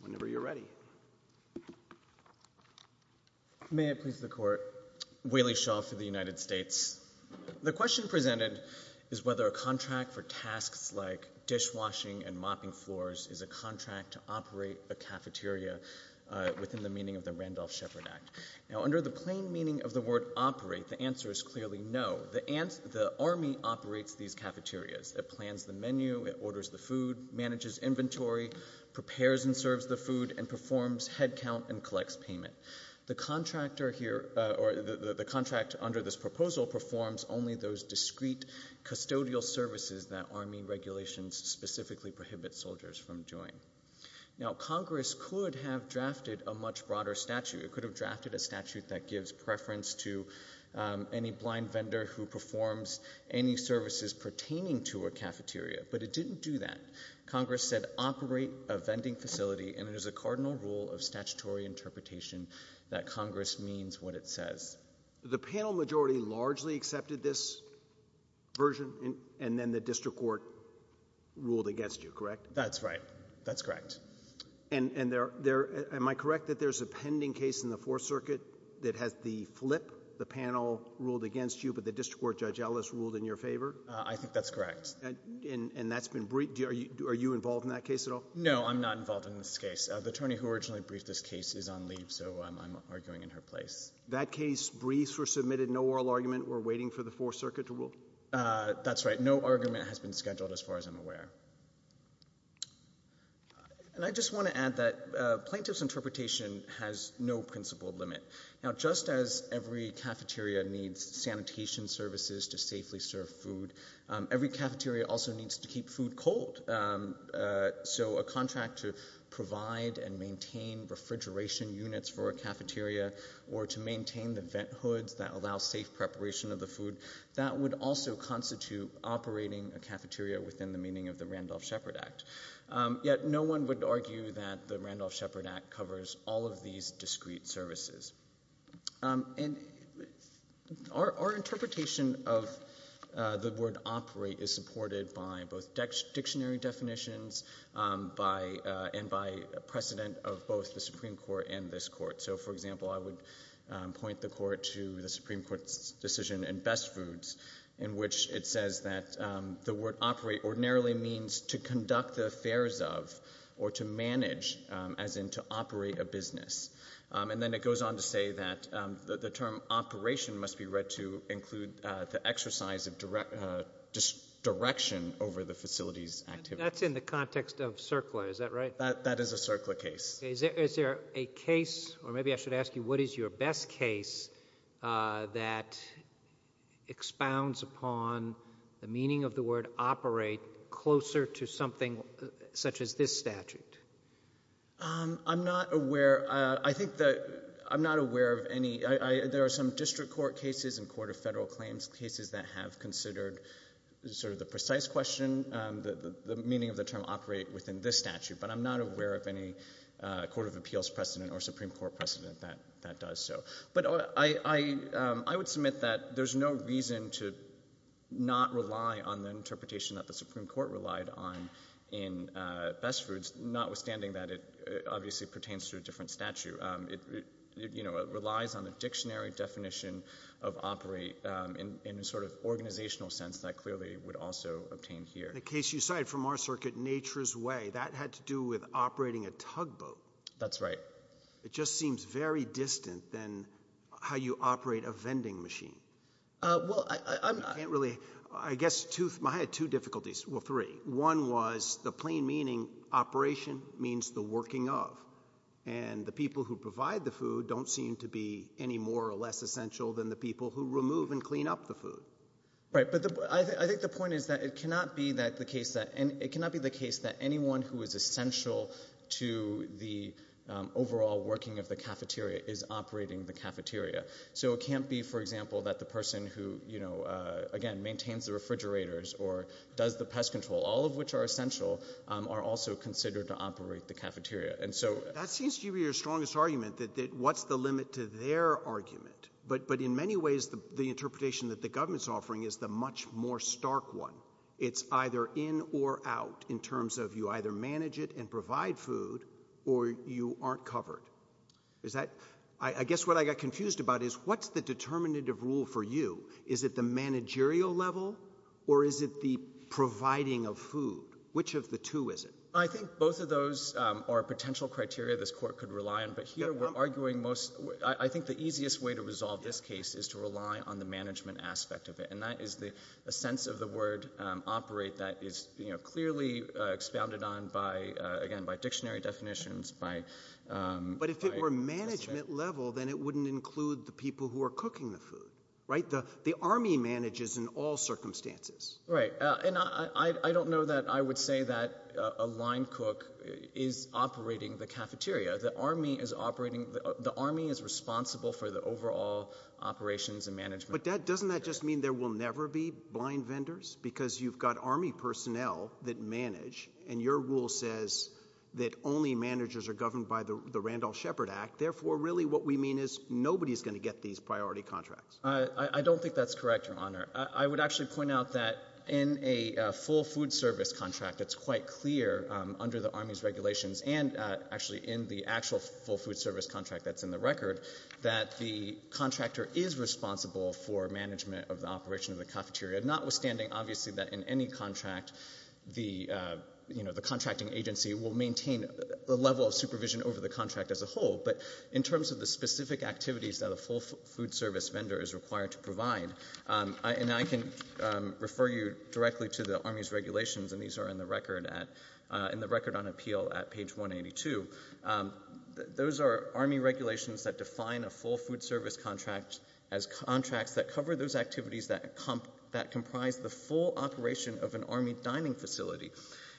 Whenever you're ready. May it please the Court. Waley Shaw for the United States. The question presented is whether a contract for tasks like dishwashing and mopping floors is a contract to operate a cafeteria within the meaning of the Randolph-Shepard Act. Now, under the plain meaning of the word operate, the answer is clearly no. The Army operates these cafeterias. It plans the menu, it orders the food, manages inventory, prepares and serves the food, and performs head count and collects payment. The contract under this proposal performs only those discrete custodial services that Army regulations specifically prohibit soldiers from doing. Now, Congress could have drafted a much broader statute. It could have drafted a statute that gives preference to any blind vendor who performs any services pertaining to a cafeteria, but it didn't do that. Congress said operate a vending facility, and it is a cardinal rule of statutory interpretation that Congress means what it says. The panel majority largely accepted this version, and then the district court ruled against you, correct? That's right. That's correct. And am I correct that there's a pending case in the Fourth Circuit that has the flip, that the panel ruled against you, but the district court, Judge Ellis, ruled in your favor? I think that's correct. And that's been briefed? Are you involved in that case at all? No, I'm not involved in this case. The attorney who originally briefed this case is on leave, so I'm arguing in her place. That case briefed or submitted no oral argument or waiting for the Fourth Circuit to rule? That's right. No argument has been scheduled as far as I'm aware. And I just want to add that plaintiff's interpretation has no principled limit. Now, just as every cafeteria needs sanitation services to safely serve food, every cafeteria also needs to keep food cold. So a contract to provide and maintain refrigeration units for a cafeteria or to maintain the vent hoods that allow safe preparation of the food, that would also constitute operating a cafeteria within the meaning of the Randolph-Shepard Act. Yet no one would argue that the Randolph-Shepard Act covers all of these discrete services. And our interpretation of the word operate is supported by both dictionary definitions and by precedent of both the Supreme Court and this Court. So, for example, I would point the Court to the Supreme Court's decision in Best Foods in which it says that the word operate ordinarily means to conduct the affairs of or to manage, as in to operate a business. And then it goes on to say that the term operation must be read to include the exercise of direction over the facility's activity. That's in the context of CERCLA, is that right? That is a CERCLA case. Is there a case, or maybe I should ask you what is your best case, that expounds upon the meaning of the word operate closer to something such as this statute? I'm not aware. I think that I'm not aware of any. There are some district court cases and court of federal claims cases that have considered sort of the precise question, the meaning of the term operate within this statute, but I'm not aware of any court of appeals precedent or Supreme Court precedent that does so. But I would submit that there's no reason to not rely on the interpretation that the Supreme Court relied on in Best Foods, notwithstanding that it obviously pertains to a different statute. It relies on the dictionary definition of operate in a sort of organizational sense that clearly would also obtain here. In the case you cited from our circuit, Nature's Way, that had to do with operating a tugboat. That's right. It just seems very distant than how you operate a vending machine. Well, I'm not. I can't really. I guess I had two difficulties. Well, three. One was the plain meaning operation means the working of, and the people who provide the food don't seem to be any more or less essential than the people who remove and clean up the food. Right, but I think the point is that it cannot be the case that anyone who is essential to the overall working of the cafeteria is operating the cafeteria. So it can't be, for example, that the person who, again, maintains the refrigerators or does the pest control, all of which are essential, are also considered to operate the cafeteria. That seems to be your strongest argument, that what's the limit to their argument. But in many ways, the interpretation that the government is offering is the much more stark one. It's either in or out in terms of you either manage it and provide food or you aren't covered. I guess what I got confused about is what's the determinative rule for you? Is it the managerial level or is it the providing of food? Which of the two is it? I think both of those are potential criteria this court could rely on, but here we're arguing most. I think the easiest way to resolve this case is to rely on the management aspect of it, and that is a sense of the word operate that is clearly expounded on, again, by dictionary definitions. But if it were management level, then it wouldn't include the people who are cooking the food, right? The Army manages in all circumstances. Right, and I don't know that I would say that a line cook is operating the cafeteria. The Army is responsible for the overall operations and management. But doesn't that just mean there will never be blind vendors because you've got Army personnel that manage, and your rule says that only managers are governed by the Randolph-Shepard Act, therefore really what we mean is nobody is going to get these priority contracts. I don't think that's correct, Your Honor. I would actually point out that in a full food service contract, it's quite clear under the Army's regulations and actually in the actual full food service contract that's in the record that the contractor is responsible for management of the operation of the cafeteria, notwithstanding, obviously, that in any contract the contracting agency will maintain a level of supervision over the contract as a whole. But in terms of the specific activities that a full food service vendor is required to provide, and I can refer you directly to the Army's regulations, and these are in the record on appeal at page 182. Those are Army regulations that define a full food service contract as contracts that cover those activities that comprise the full operation of an Army dining facility.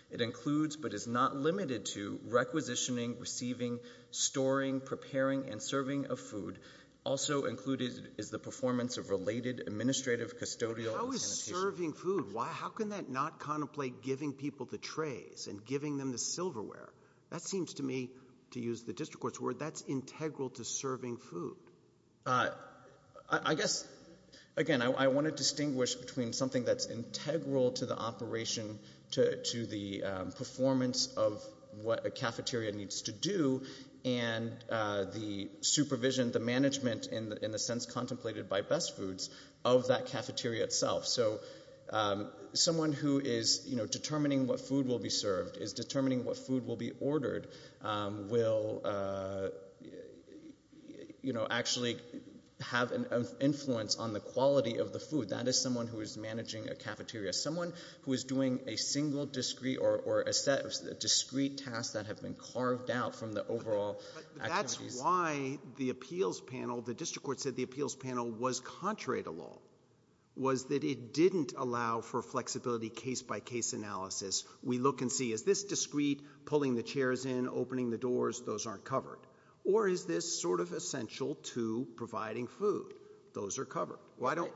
It includes but is not limited to requisitioning, receiving, storing, preparing, and serving of food. Also included is the performance of related administrative, custodial, and sanitation. How is serving food? How can that not contemplate giving people the trays and giving them the silverware? That seems to me, to use the district court's word, that's integral to serving food. I guess, again, I want to distinguish between something that's integral to the operation, to the performance of what a cafeteria needs to do, and the supervision, the management, in the sense contemplated by Best Foods, of that cafeteria itself. So someone who is determining what food will be served, is determining what food will be ordered, will actually have an influence on the quality of the food. That is someone who is managing a cafeteria. Someone who is doing a single discrete or a set of discrete tasks that have been carved out from the overall activities. But that's why the appeals panel, the district court said the appeals panel was contrary to law, was that it didn't allow for flexibility case-by-case analysis. We look and see, is this discrete, pulling the chairs in, opening the doors? Those aren't covered. Or is this sort of essential to providing food? Those are covered. I don't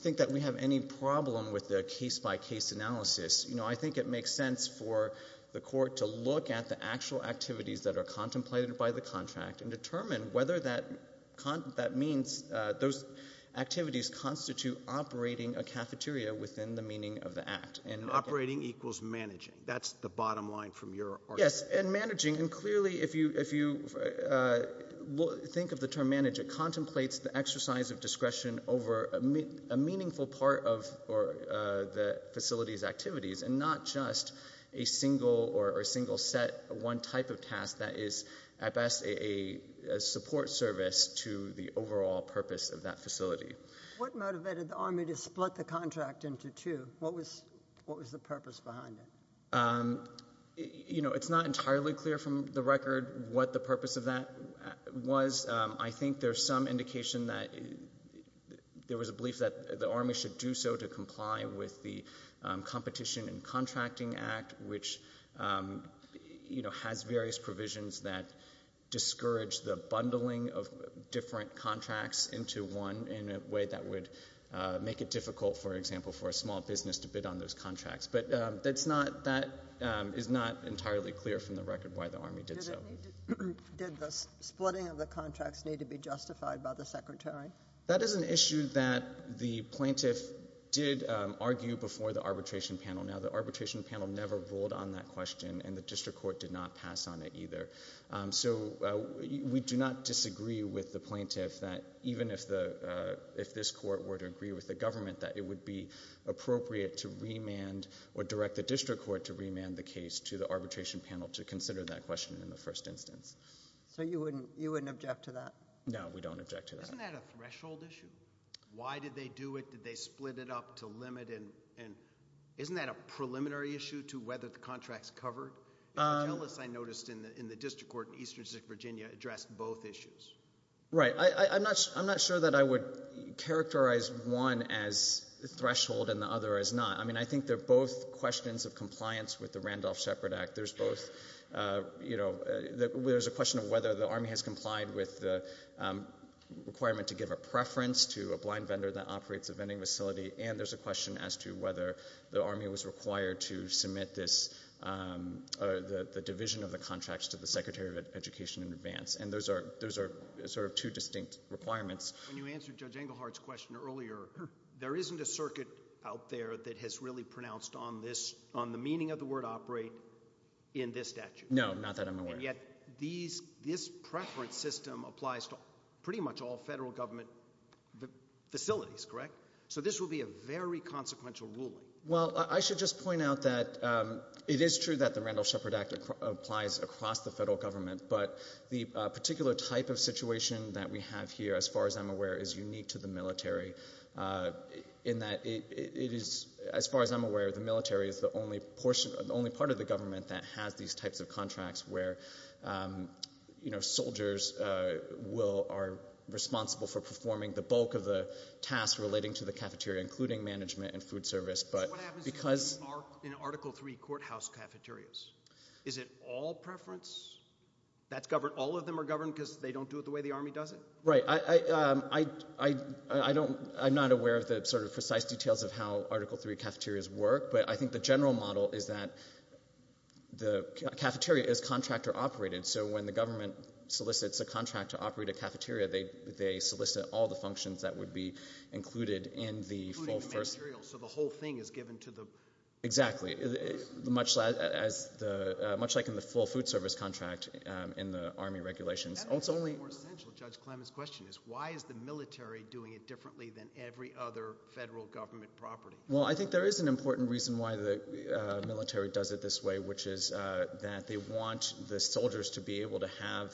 think that we have any problem with the case-by-case analysis. I think it makes sense for the court to look at the actual activities that are contemplated by the contract and determine whether that means those activities constitute operating a cafeteria within the meaning of the act. And operating equals managing. That's the bottom line from your argument. Yes, and managing, and clearly if you think of the term manage, it contemplates the exercise of discretion over a meaningful part of the facility's activities, and not just a single or a single set one type of task that is at best a support service to the overall purpose of that facility. What motivated the Army to split the contract into two? What was the purpose behind it? You know, it's not entirely clear from the record what the purpose of that was. I think there's some indication that there was a belief that the Army should do so to comply with the Competition and Contracting Act, which has various provisions that discourage the bundling of different contracts into one in a way that would make it difficult, for example, for a small business to bid on those contracts. But that is not entirely clear from the record why the Army did so. Did the splitting of the contracts need to be justified by the Secretary? That is an issue that the plaintiff did argue before the arbitration panel. Now, the arbitration panel never ruled on that question, and the district court did not pass on it either. So we do not disagree with the plaintiff that even if this court were to agree with the government, that it would be appropriate to remand or direct the district court to remand the case to the arbitration panel to consider that question in the first instance. So you wouldn't object to that? No, we don't object to that. Isn't that a threshold issue? Why did they do it? Did they split it up to limit it? And isn't that a preliminary issue to whether the contract is covered? I noticed in the district court in Eastern Virginia addressed both issues. Right. I'm not sure that I would characterize one as a threshold and the other as not. I mean, I think they're both questions of compliance with the Randolph-Shepard Act. There's a question of whether the Army has complied with the requirement to give a preference to a blind vendor that operates a vending facility, and there's a question as to whether the Army was required to submit the division of the contracts to the Secretary of Education in advance. And those are sort of two distinct requirements. When you answered Judge Engelhardt's question earlier, there isn't a circuit out there that has really pronounced on the meaning of the word operate in this statute. No, not that I'm aware of. And yet this preference system applies to pretty much all federal government facilities, correct? So this will be a very consequential ruling. Well, I should just point out that it is true that the Randolph-Shepard Act applies across the federal government, but the particular type of situation that we have here, as far as I'm aware, is unique to the military in that it is, as far as I'm aware, the military is the only part of the government that has these types of contracts where soldiers are responsible for performing the bulk of the tasks relating to the cafeteria, including management and food service. So what happens in Article III courthouse cafeterias? Is it all preference? That's governed? All of them are governed because they don't do it the way the Army does it? Right. I'm not aware of the sort of precise details of how Article III cafeterias work, but I think the general model is that the cafeteria is contract or operated. So when the government solicits a contract to operate a cafeteria, they solicit all the functions that would be included in the full first. Including the materials, so the whole thing is given to the... Exactly, much like in the full food service contract in the Army regulations. That makes it more essential, Judge Clement's question, is why is the military doing it differently than every other federal government property? Well, I think there is an important reason why the military does it this way, which is that they want the soldiers to be able to have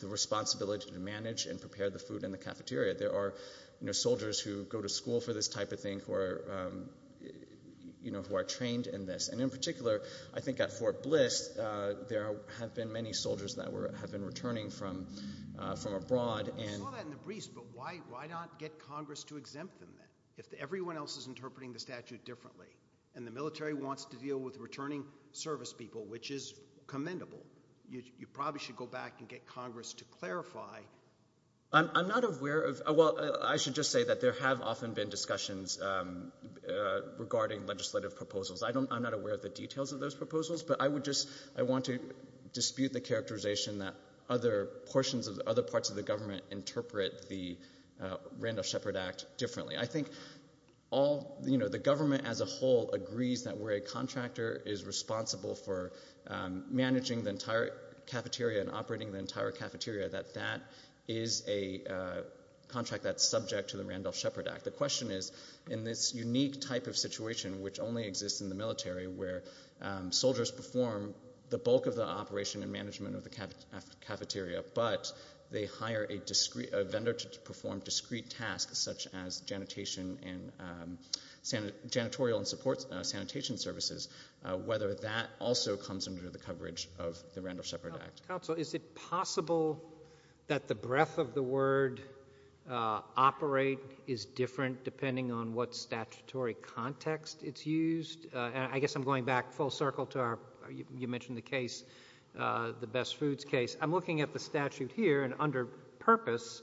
the responsibility to manage and prepare the food in the cafeteria. There are soldiers who go to school for this type of thing who are trained in this. And in particular, I think at Fort Bliss, there have been many soldiers that have been returning from abroad. I saw that in the briefs, but why not get Congress to exempt them then? If everyone else is interpreting the statute differently and the military wants to deal with returning service people, which is commendable, you probably should go back and get Congress to clarify. I'm not aware of... Well, I should just say that there have often been discussions regarding legislative proposals. I'm not aware of the details of those proposals, but I would just want to dispute the characterization that other parts of the government interpret the Randolph-Shepard Act differently. I think the government as a whole agrees that where a contractor is responsible for managing the entire cafeteria and operating the entire cafeteria, that that is a contract that's subject to the Randolph-Shepard Act. The question is, in this unique type of situation, which only exists in the military, where soldiers perform the bulk of the operation and management of the cafeteria but they hire a vendor to perform discrete tasks such as janitorial and support sanitation services, whether that also comes under the coverage of the Randolph-Shepard Act. Counsel, is it possible that the breadth of the word operate is different depending on what statutory context it's used? I guess I'm going back full circle to our... You mentioned the case, the Best Foods case. I'm looking at the statute here, and under purpose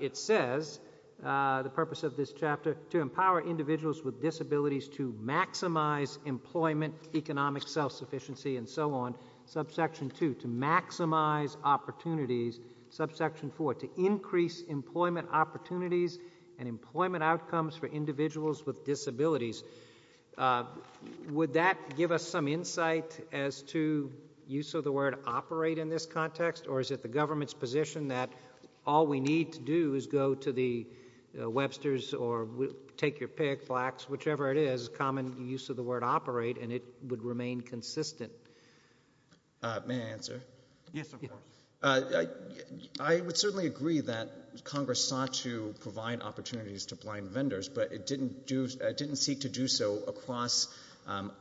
it says, the purpose of this chapter, to empower individuals with disabilities to maximize employment, economic self-sufficiency, and so on. Subsection 2, to maximize opportunities. Subsection 4, to increase employment opportunities and employment outcomes for individuals with disabilities. Would that give us some insight as to use of the word operate in this context, or is it the government's position that all we need to do is go to the Webster's or Take Your Pick, Flax, whichever it is, common use of the word operate and it would remain consistent? May I answer? Yes, of course. I would certainly agree that Congress sought to provide opportunities to blind vendors, but it didn't seek to do so across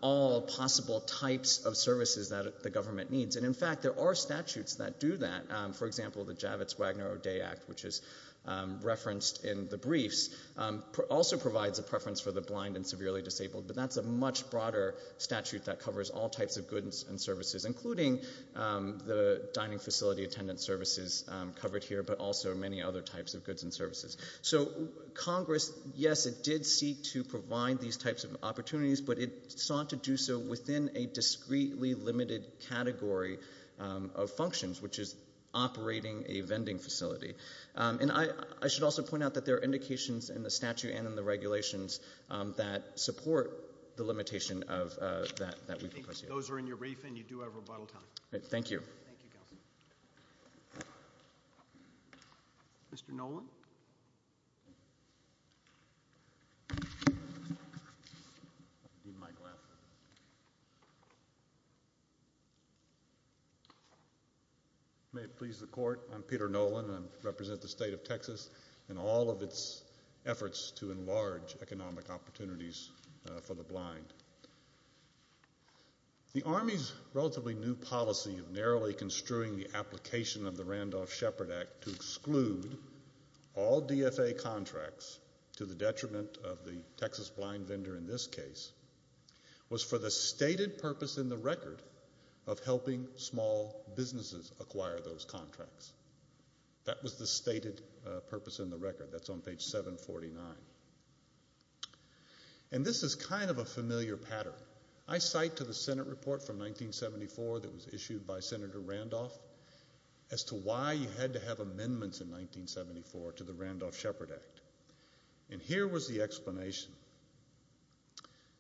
all possible types of services that the government needs. And, in fact, there are statutes that do that. For example, the Javits-Wagner-O'Day Act, which is referenced in the briefs, also provides a preference for the blind and severely disabled, but that's a much broader statute that covers all types of goods and services, including the dining facility attendance services covered here, but also many other types of goods and services. So Congress, yes, it did seek to provide these types of opportunities, but it sought to do so within a discreetly limited category of functions, which is operating a vending facility. And I should also point out that there are indications in the statute and in the regulations that support the limitation that we propose here. Those are in your brief, and you do have rebuttal time. Thank you. Thank you, Counselor. Mr. Nolan? May it please the Court. I'm Peter Nolan, and I represent the State of Texas in all of its efforts to enlarge economic opportunities for the blind. The Army's relatively new policy of narrowly construing the application of the Randolph-Shepard Act to exclude all DFA contracts to the detriment of the Texas blind vendor in this case was for the stated purpose in the record of helping small businesses acquire those contracts. That was the stated purpose in the record. That's on page 749. And this is kind of a familiar pattern. I cite to the Senate report from 1974 that was issued by Senator Randolph as to why you had to have amendments in 1974 to the Randolph-Shepard Act. And here was the explanation.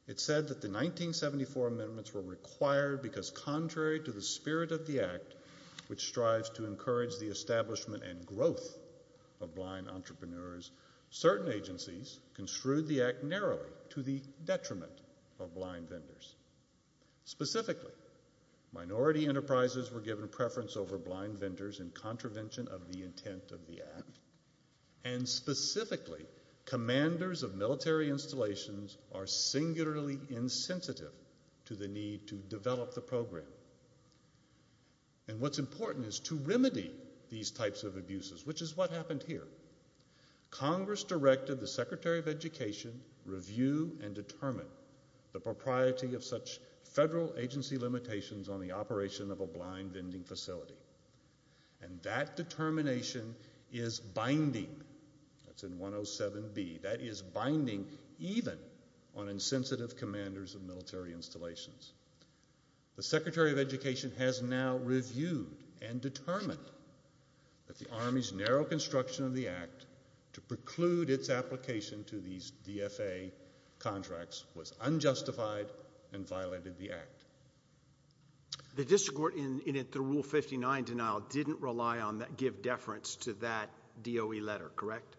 It said that the 1974 amendments were required because contrary to the spirit of the Act, which strives to encourage the establishment and growth of blind entrepreneurs, certain agencies construed the Act narrowly to the detriment of blind vendors. Specifically, minority enterprises were given preference over blind vendors in contravention of the intent of the Act, and specifically, commanders of military installations are singularly insensitive to the need to develop the program. And what's important is to remedy these types of abuses, which is what happened here. Congress directed the Secretary of Education review and determine the propriety of such federal agency limitations on the operation of a blind vending facility. And that determination is binding. That's in 107B. That is binding even on insensitive commanders of military installations. The Secretary of Education has now reviewed and determined that the Army's narrow construction of the Act to preclude its application to these DFA contracts was unjustified and violated the Act. The district court, in its Rule 59 denial, didn't give deference to that DOE letter, correct?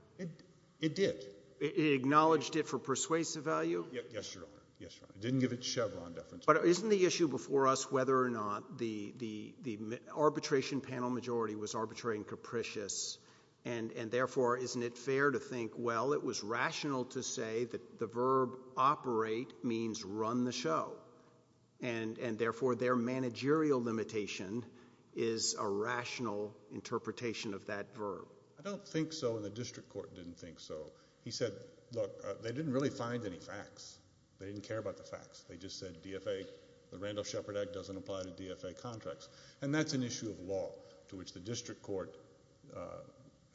It did. It acknowledged it for persuasive value? Yes, Your Honor. It didn't give it Chevron deference. But isn't the issue before us whether or not the arbitration panel majority was arbitrary and capricious, and therefore isn't it fair to think, well, it was rational to say that the verb operate means run the show, and therefore their managerial limitation is a rational interpretation of that verb? I don't think so, and the district court didn't think so. He said, look, they didn't really find any facts. They didn't care about the facts. They just said the Randolph-Shepard Act doesn't apply to DFA contracts. And that's an issue of law, to which the district court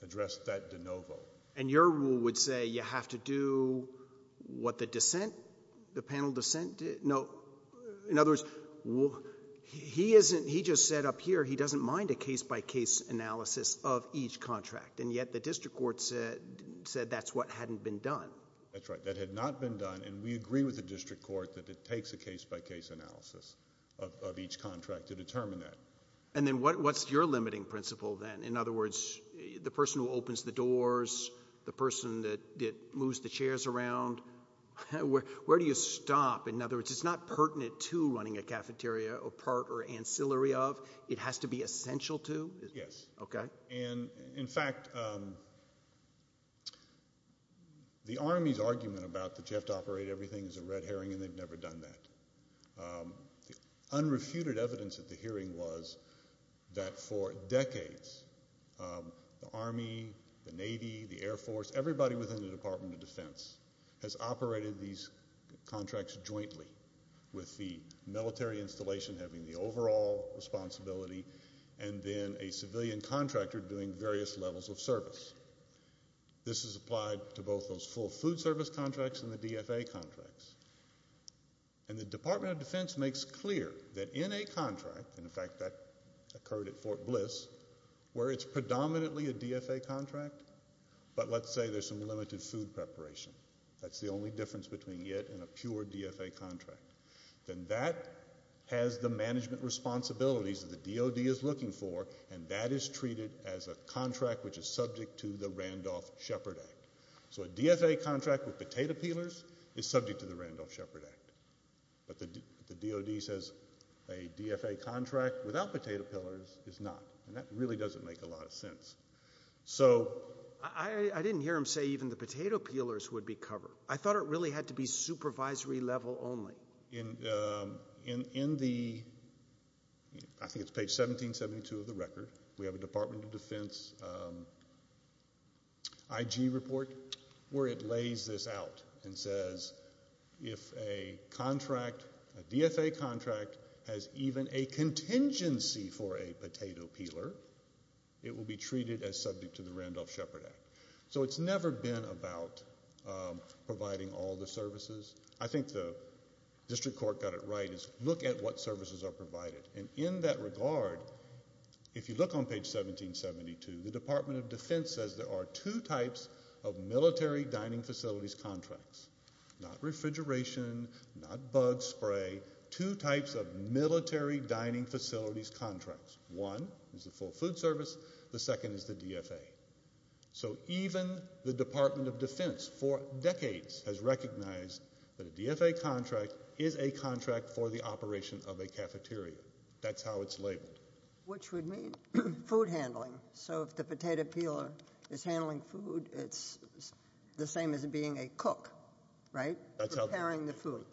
addressed that de novo. And your rule would say you have to do what the panel dissent did? No. In other words, he just said up here he doesn't mind a case-by-case analysis of each contract, and yet the district court said that's what hadn't been done. That's right. That had not been done, and we agree with the district court that it takes a case-by-case analysis of each contract to determine that. And then what's your limiting principle then? In other words, the person who opens the doors, the person that moves the chairs around, where do you stop? In other words, it's not pertinent to running a cafeteria or part or ancillary of. It has to be essential to? Yes. In fact, the Army's argument about that you have to operate everything is a red herring, and they've never done that. The unrefuted evidence at the hearing was that for decades, the Army, the Navy, the Air Force, everybody within the Department of Defense has operated these contracts jointly, with the military installation having the overall responsibility and then a civilian contractor doing various levels of service. This is applied to both those full food service contracts and the DFA contracts. And the Department of Defense makes clear that in a contract, and in fact that occurred at Fort Bliss, where it's predominantly a DFA contract, but let's say there's some limited food preparation. That's the only difference between it and a pure DFA contract. Then that has the management responsibilities that the DoD is looking for, and that is treated as a contract which is subject to the Randolph-Shepard Act. So a DFA contract with potato peelers is subject to the Randolph-Shepard Act. But the DoD says a DFA contract without potato peelers is not, and that really doesn't make a lot of sense. I didn't hear him say even the potato peelers would be covered. I thought it really had to be supervisory level only. In the, I think it's page 1772 of the record, we have a Department of Defense IG report where it lays this out and says if a contract, a DFA contract, has even a contingency for a potato peeler, it will be treated as subject to the Randolph-Shepard Act. So it's never been about providing all the services. I think the district court got it right. It's look at what services are provided. And in that regard, if you look on page 1772, the Department of Defense says there are two types of military dining facilities contracts, not refrigeration, not bug spray, two types of military dining facilities contracts. One is the full food service. The second is the DFA. So even the Department of Defense for decades has recognized that a DFA contract is a contract for the operation of a cafeteria. That's how it's labeled. Which would mean food handling. So if the potato peeler is handling food, it's the same as being a cook, right, preparing the food,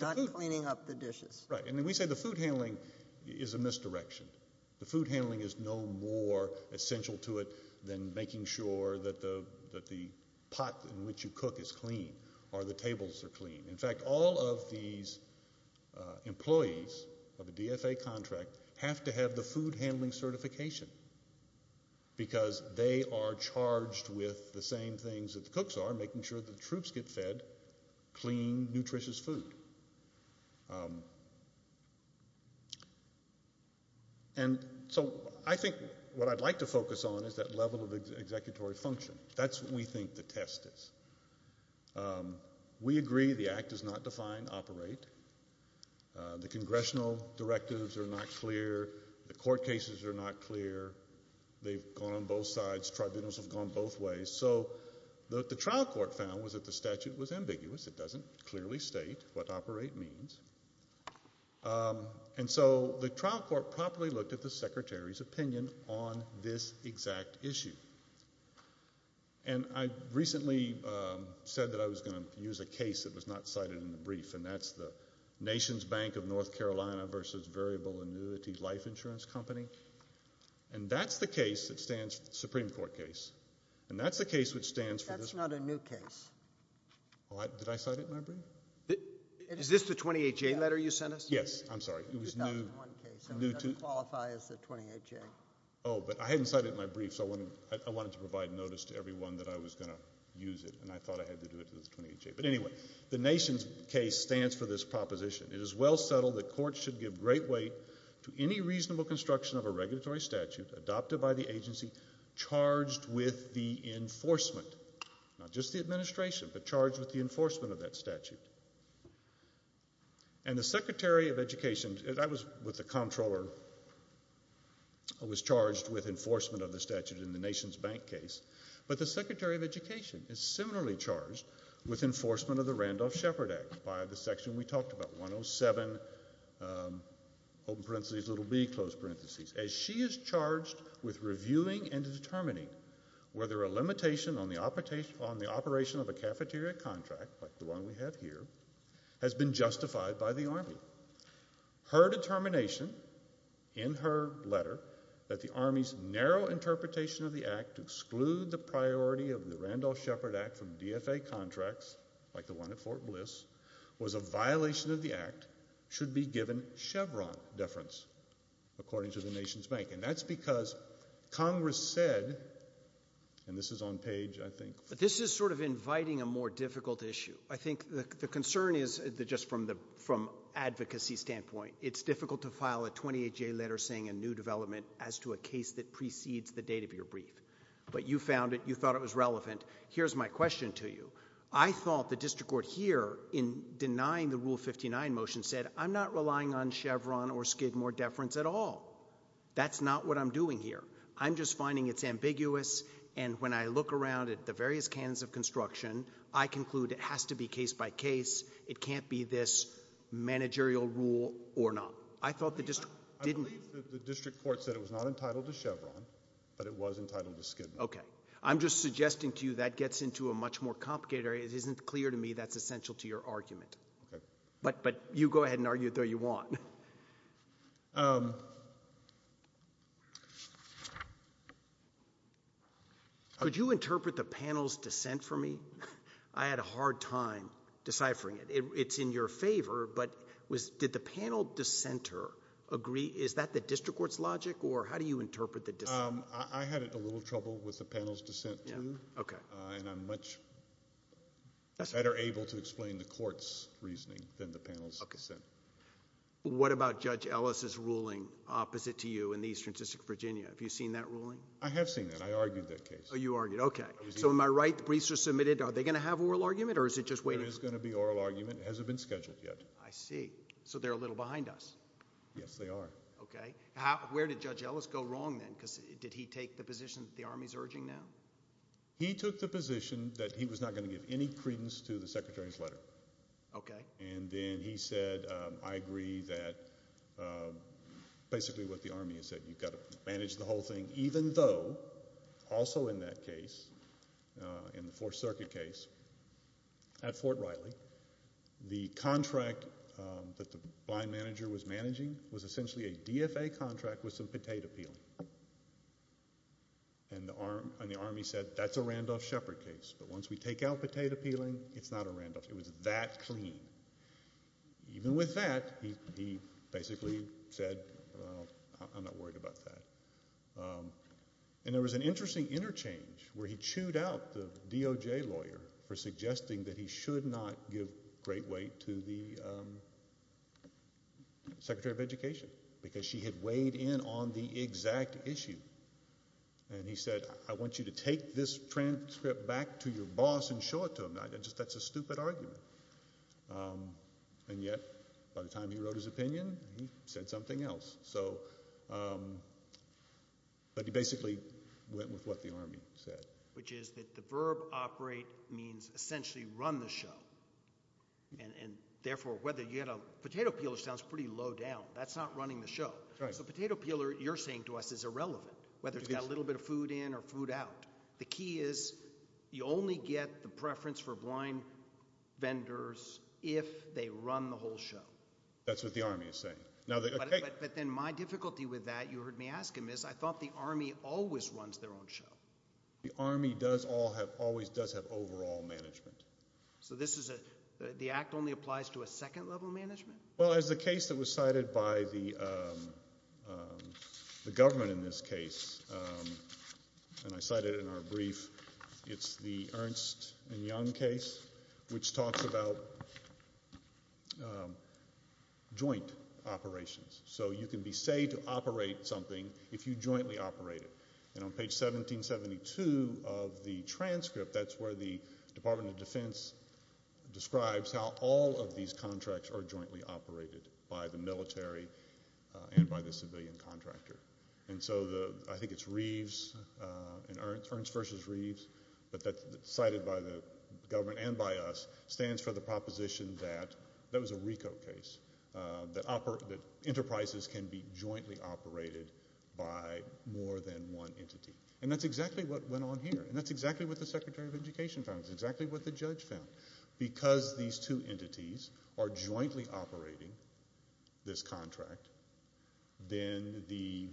not cleaning up the dishes. Right, and then we say the food handling is a misdirection. The food handling is no more essential to it than making sure that the pot in which you cook is clean or the tables are clean. In fact, all of these employees of a DFA contract have to have the food handling certification because they are charged with the same things that the cooks are, making sure the troops get fed clean, nutritious food. And so I think what I'd like to focus on is that level of executory function. That's what we think the test is. We agree the act does not define operate. The congressional directives are not clear. The court cases are not clear. They've gone on both sides. Tribunals have gone both ways. So what the trial court found was that the statute was ambiguous. It doesn't clearly state what operate means. And so the trial court properly looked at the secretary's opinion on this exact issue. And I recently said that I was going to use a case that was not cited in the brief, and that's the Nation's Bank of North Carolina versus Variable Annuity Life Insurance Company. And that's the case that stands for the Supreme Court case. And that's the case which stands for this. That's not a new case. Did I cite it in my brief? Is this the 28-J letter you sent us? Yes. I'm sorry. It was new. It doesn't qualify as the 28-J. Oh, but I hadn't cited it in my brief, so I wanted to provide notice to everyone that I was going to use it, and I thought I had to do it to the 28-J. But anyway, the Nation's case stands for this proposition. It is well settled that courts should give great weight to any reasonable construction of a regulatory statute adopted by the agency charged with the enforcement, not just the administration, but charged with the enforcement of that statute. And the Secretary of Education, and I was with the comptroller, was charged with enforcement of the statute in the Nation's Bank case, but the Secretary of Education is similarly charged with enforcement of the Randolph-Shepard Act by the section we talked about, section 107, open parentheses, little b, close parentheses, as she is charged with reviewing and determining whether a limitation on the operation of a cafeteria contract, like the one we have here, has been justified by the Army. Her determination in her letter that the Army's narrow interpretation of the Act to exclude the priority of the Randolph-Shepard Act from DFA contracts, like the one at Fort Bliss, was a violation of the Act, should be given Chevron deference, according to the Nation's Bank. And that's because Congress said, and this is on page, I think... But this is sort of inviting a more difficult issue. I think the concern is, just from advocacy standpoint, it's difficult to file a 28-J letter saying a new development as to a case that precedes the date of your brief. But you found it, you thought it was relevant. Here's my question to you. I thought the district court here, in denying the Rule 59 motion, said I'm not relying on Chevron or Skidmore deference at all. That's not what I'm doing here. I'm just finding it's ambiguous, and when I look around at the various canons of construction, I conclude it has to be case by case. It can't be this managerial rule or not. I thought the district didn't... I believe the district court said it was not entitled to Chevron, but it was entitled to Skidmore. Okay. I'm just suggesting to you that gets into a much more complicated area. It isn't clear to me that's essential to your argument. But you go ahead and argue it though you want. Could you interpret the panel's dissent for me? I had a hard time deciphering it. It's in your favor, but did the panel dissenter agree? I had a little trouble with the panel's dissent too, and I'm much better able to explain the court's reasoning than the panel's dissent. What about Judge Ellis's ruling opposite to you in the Eastern District of Virginia? Have you seen that ruling? I have seen that. I argued that case. Oh, you argued it. Okay. So am I right? The briefs are submitted. Are they going to have oral argument, or is it just waiting? There is going to be oral argument. It hasn't been scheduled yet. I see. So they're a little behind us. Yes, they are. Okay. So where did Judge Ellis go wrong then? Because did he take the position that the Army is urging now? He took the position that he was not going to give any credence to the Secretary's letter. Okay. And then he said, I agree that basically what the Army has said, you've got to manage the whole thing even though also in that case, in the Fourth Circuit case at Fort Riley, the contract that the blind manager was managing was essentially a DFA contract with some potato peeling. And the Army said, that's a Randolph Shepard case. But once we take out potato peeling, it's not a Randolph. It was that clean. Even with that, he basically said, well, I'm not worried about that. And there was an interesting interchange where he chewed out the DOJ lawyer for suggesting that he should not give great weight to the Secretary of Education because she had weighed in on the exact issue. And he said, I want you to take this transcript back to your boss and show it to him. That's a stupid argument. And yet by the time he wrote his opinion, he said something else. But he basically went with what the Army said. Which is that the verb operate means essentially run the show. And therefore whether you get a potato peeler sounds pretty low down. That's not running the show. So potato peeler, you're saying to us, is irrelevant, whether it's got a little bit of food in or food out. The key is you only get the preference for blind vendors if they run the whole show. That's what the Army is saying. But then my difficulty with that, you heard me ask him, is I thought the Army always runs their own show. The Army always does have overall management. So the Act only applies to a second level of management? Well, as the case that was cited by the government in this case, and I cited it in our brief, it's the Ernst and Young case, which talks about joint operations. So you can be say to operate something if you jointly operate it. And on page 1772 of the transcript, that's where the Department of Defense describes how all of these contracts are jointly operated by the military and by the civilian contractor. And so I think it's Reeves and Ernst versus Reeves, but that's cited by the government and by us, stands for the proposition that that was a RICO case, that enterprises can be jointly operated by more than one entity. And that's exactly what went on here and that's exactly what the Secretary of Education found and that's exactly what the judge found. Because these two entities are jointly operating this contract, then the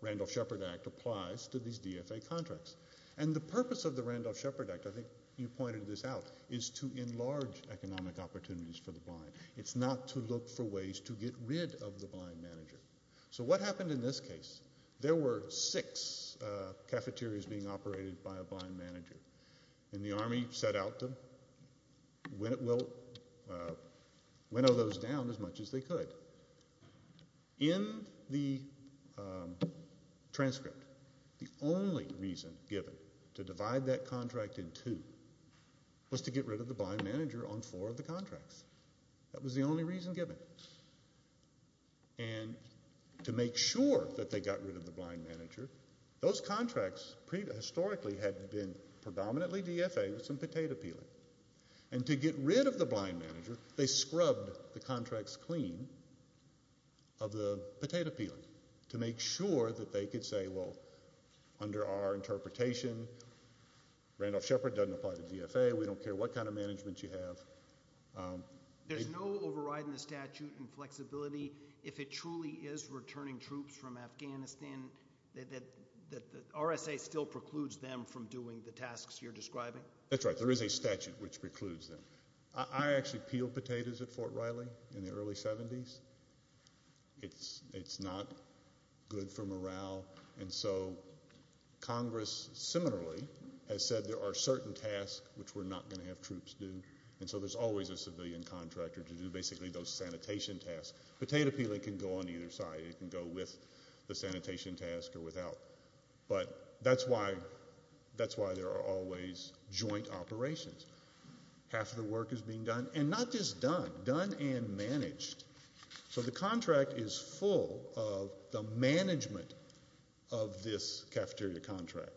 Randolph-Shepard Act applies to these DFA contracts. And the purpose of the Randolph-Shepard Act, I think you pointed this out, is to enlarge economic opportunities for the blind. It's not to look for ways to get rid of the blind manager. So what happened in this case? There were six cafeterias being operated by a blind manager, and the Army set out to winnow those down as much as they could. In the transcript, the only reason given to divide that contract in two was to get rid of the blind manager on four of the contracts. That was the only reason given. And to make sure that they got rid of the blind manager, those contracts historically had been predominantly DFA with some potato peeling. And to get rid of the blind manager, they scrubbed the contracts clean of the potato peeling to make sure that they could say, well, under our interpretation, Randolph-Shepard doesn't apply to DFA. We don't care what kind of management you have. There's no override in the statute in flexibility if it truly is returning troops from Afghanistan that RSA still precludes them from doing the tasks you're describing? That's right. There is a statute which precludes them. I actually peeled potatoes at Fort Riley in the early 70s. It's not good for morale. And so Congress similarly has said there are certain tasks which we're not going to have troops do, and so there's always a civilian contractor to do basically those sanitation tasks. Potato peeling can go on either side. It can go with the sanitation task or without. But that's why there are always joint operations. Half of the work is being done, and not just done, but done and managed. So the contract is full of the management of this cafeteria contract.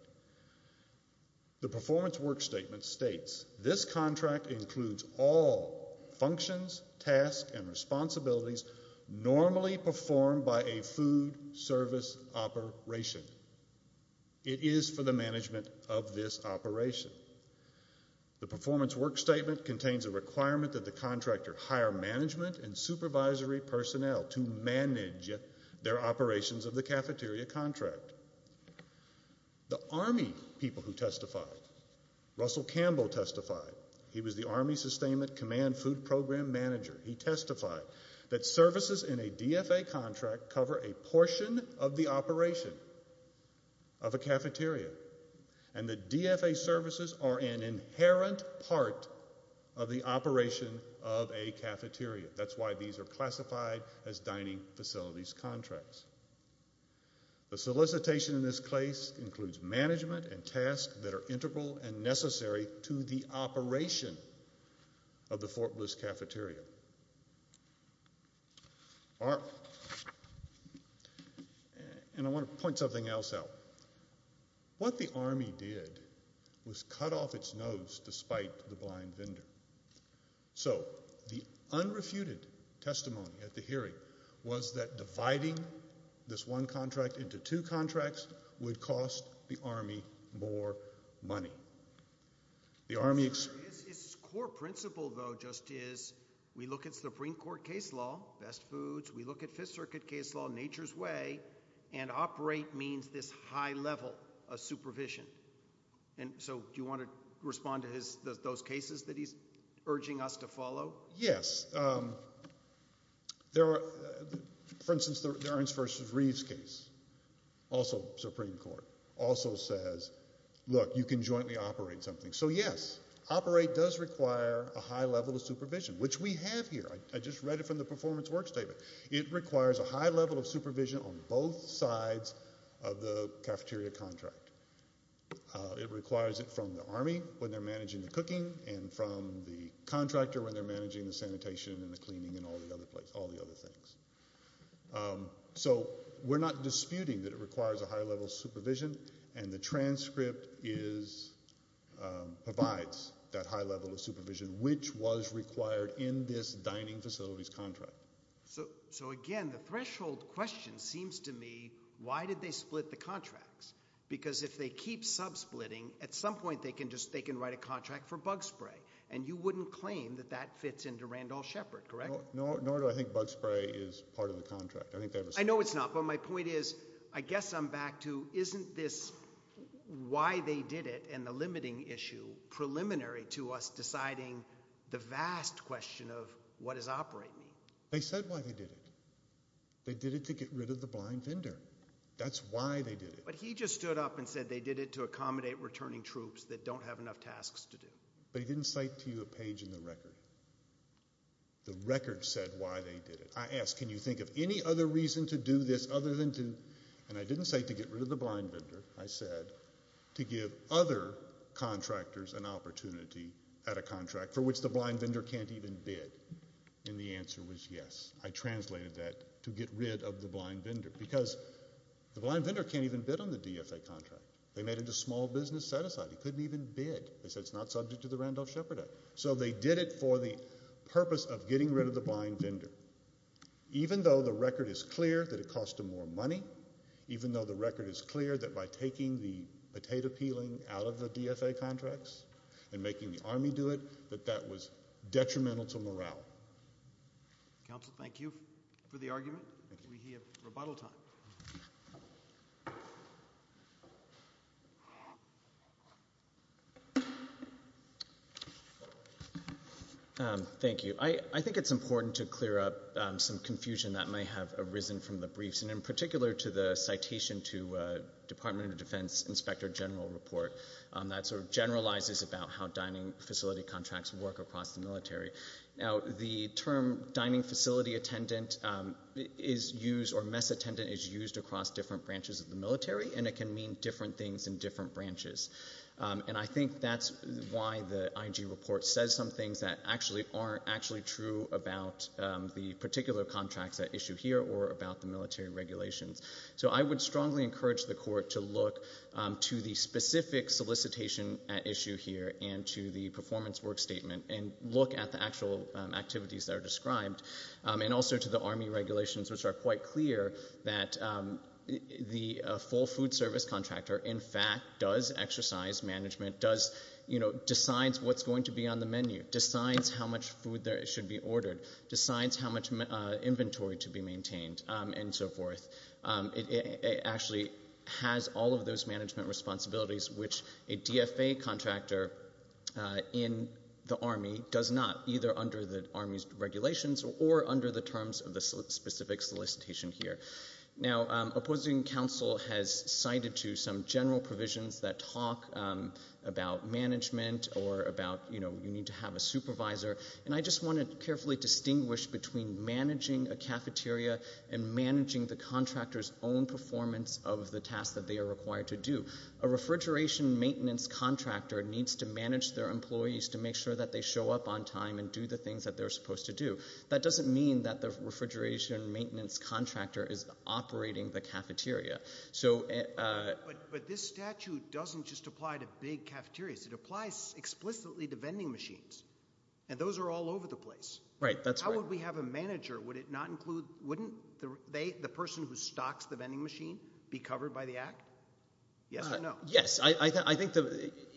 The performance work statement states, this contract includes all functions, tasks, and responsibilities normally performed by a food service operation. It is for the management of this operation. The performance work statement contains a requirement that the contractor hire management and supervisory personnel to manage their operations of the cafeteria contract. The Army people who testified, Russell Campbell testified. He was the Army Sustainment Command Food Program Manager. He testified that services in a DFA contract cover a portion of the operation of a cafeteria, and the DFA services are an inherent part of the operation of a cafeteria. That's why these are classified as dining facilities contracts. The solicitation in this case includes management and tasks that are integral and necessary to the operation of the Fort Bliss cafeteria. And I want to point something else out. What the Army did was cut off its nose despite the blind vendor. So the unrefuted testimony at the hearing was that dividing this one contract into two contracts would cost the Army more money. His core principle, though, just is we look at Supreme Court case law, best foods. We look at Fifth Circuit case law, nature's way, and operate means this high level of supervision. So do you want to respond to those cases that he's urging us to follow? Yes. For instance, the Ernst v. Reeves case, also Supreme Court, also says, look, you can jointly operate something. So, yes, operate does require a high level of supervision, which we have here. I just read it from the performance work statement. It requires a high level of supervision on both sides of the cafeteria contract. It requires it from the Army when they're managing the cooking and from the contractor when they're managing the sanitation and the cleaning and all the other things. So we're not disputing that it requires a high level of supervision, and the transcript provides that high level of supervision, which was required in this dining facilities contract. So, again, the threshold question seems to me, why did they split the contracts? Because if they keep sub-splitting, at some point they can write a contract for bug spray, and you wouldn't claim that that fits into Randall Shepard, correct? Nor do I think bug spray is part of the contract. I know it's not, but my point is, I guess I'm back to isn't this why they did it and the limiting issue preliminary to us deciding the vast question of what does operate mean? They said why they did it. They did it to get rid of the blind vendor. That's why they did it. But he just stood up and said they did it to accommodate returning troops that don't have enough tasks to do. But he didn't cite to you a page in the record. The record said why they did it. I asked, can you think of any other reason to do this other than to, and I didn't say to get rid of the blind vendor. I said to give other contractors an opportunity at a contract for which the blind vendor can't even bid, and the answer was yes. I translated that to get rid of the blind vendor, because the blind vendor can't even bid on the DFA contract. They made it a small business set-aside. He couldn't even bid. They said it's not subject to the Randall Shepard Act. So they did it for the purpose of getting rid of the blind vendor, even though the record is clear that it cost them more money, even though the record is clear that by taking the potato peeling out of the DFA contracts and making the Army do it, that that was detrimental to morale. Counsel, thank you for the argument. We have rebuttal time. Thank you. I think it's important to clear up some confusion that may have arisen from the briefs, and in particular to the citation to Department of Defense Inspector General report that sort of generalizes about how dining facility contracts work across the military. Now, the term dining facility attendant is used, or mess attendant is used across different branches of the military, and it can mean different things in different branches. And I think that's why the IG report says some things that actually aren't actually true about the particular contracts at issue here or about the military regulations. So I would strongly encourage the court to look to the specific solicitation at issue here and to the performance work statement and look at the actual activities that are described. And also to the Army regulations, which are quite clear that the full food service contractor, in fact, does exercise management, decides what's going to be on the menu, decides how much food should be ordered, decides how much inventory to be maintained, and so forth. It actually has all of those management responsibilities, which a DFA contractor in the Army does not, either under the Army's regulations or under the terms of the specific solicitation here. Now, opposing counsel has cited to some general provisions that talk about management or about, you know, you need to have a supervisor. And I just want to carefully distinguish between managing a cafeteria and managing the contractor's own performance of the tasks that they are required to do. A refrigeration maintenance contractor needs to manage their employees to make sure that they show up on time and do the things that they're supposed to do. That doesn't mean that the refrigeration maintenance contractor is operating the cafeteria. But this statute doesn't just apply to big cafeterias. It applies explicitly to vending machines, and those are all over the place. Right, that's right. How would we have a manager? Wouldn't the person who stocks the vending machine be covered by the act? Yes or no? Yes. I think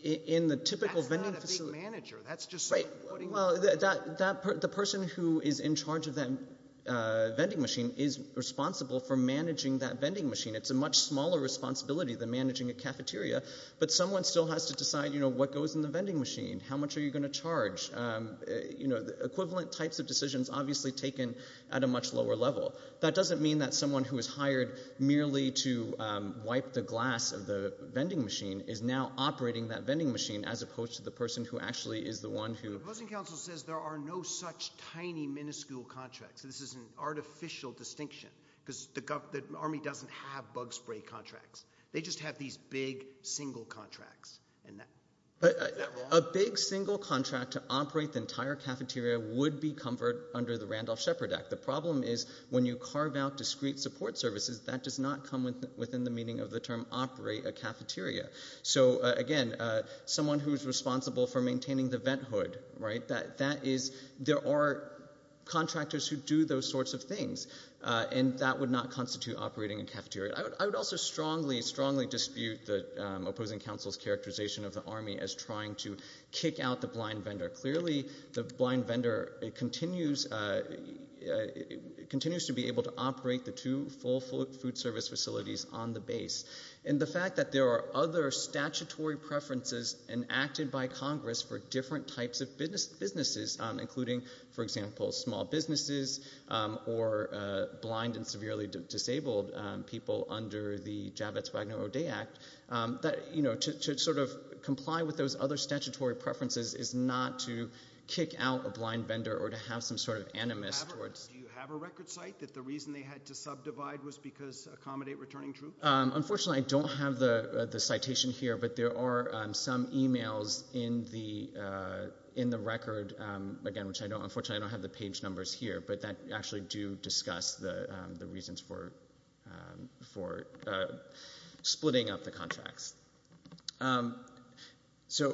in the typical vending facility... That's not a big manager. That's just someone putting... Right. Well, the person who is in charge of that vending machine is responsible for managing that vending machine. It's a much smaller responsibility than managing a cafeteria, but someone still has to decide, you know, what goes in the vending machine, how much are you going to charge? You know, the equivalent types of decisions are obviously taken at a much lower level. That doesn't mean that someone who is hired merely to wipe the glass of the vending machine is now operating that vending machine as opposed to the person who actually is the one who... The proposing counsel says there are no such tiny, minuscule contracts. This is an artificial distinction because the Army doesn't have bug spray contracts. They just have these big, single contracts. Is that wrong? A big, single contract to operate the entire cafeteria would be covered under the Randolph-Shepard Act. The problem is when you carve out discrete support services, that does not come within the meaning of the term operate a cafeteria. So, again, someone who is responsible for maintaining the vent hood, right? That is... There are contractors who do those sorts of things, and that would not constitute operating a cafeteria. I would also strongly, strongly dispute the opposing counsel's characterization of the Army as trying to kick out the blind vendor. Clearly, the blind vendor continues... continues to be able to operate the two full food service facilities on the base. And the fact that there are other statutory preferences enacted by Congress for different types of businesses, including, for example, small businesses or blind and severely disabled people under the Javits-Wagner-O'Day Act, to sort of comply with those other statutory preferences is not to kick out a blind vendor or to have some sort of animus towards... Do you have a record cite that the reason they had to subdivide was because accommodate returning troops? Unfortunately, I don't have the citation here, but there are some e-mails in the record, again, which, unfortunately, I don't have the page numbers here, but that actually do discuss the reasons for splitting up the contracts. So,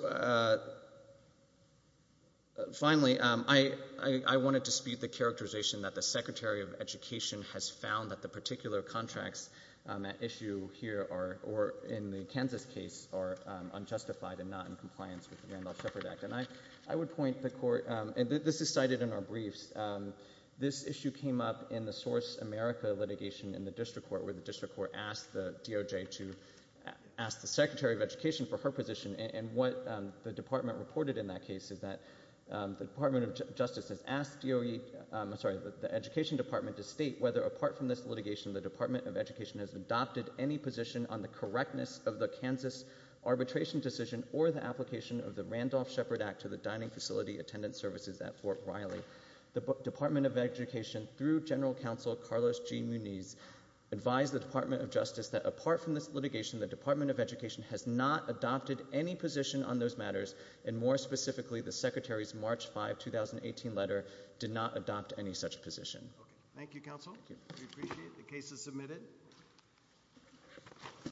finally, I want to dispute the characterization that the Secretary of Education has found that the particular contracts at issue here or in the Kansas case are unjustified and not in compliance with the Randolph-Shepard Act. And I would point the court... This is cited in our briefs. This issue came up in the Source America litigation in the district court, where the district court asked the DOJ to ask the Secretary of Education for her position. And what the department reported in that case is that the Department of Justice has asked DOE... I'm sorry, the Education Department to state whether, apart from this litigation, the Department of Education has adopted any position on the correctness of the Kansas arbitration decision or the application of the Randolph-Shepard Act to the Dining Facility Attendant Services at Fort Riley. The Department of Education, through General Counsel Carlos G. Munez, advised the Department of Justice that apart from this litigation, the Department of Education has not adopted any position on those matters, and more specifically, the Secretary's March 5, 2018 letter did not adopt any such position. Okay. Thank you, counsel. We appreciate the cases submitted.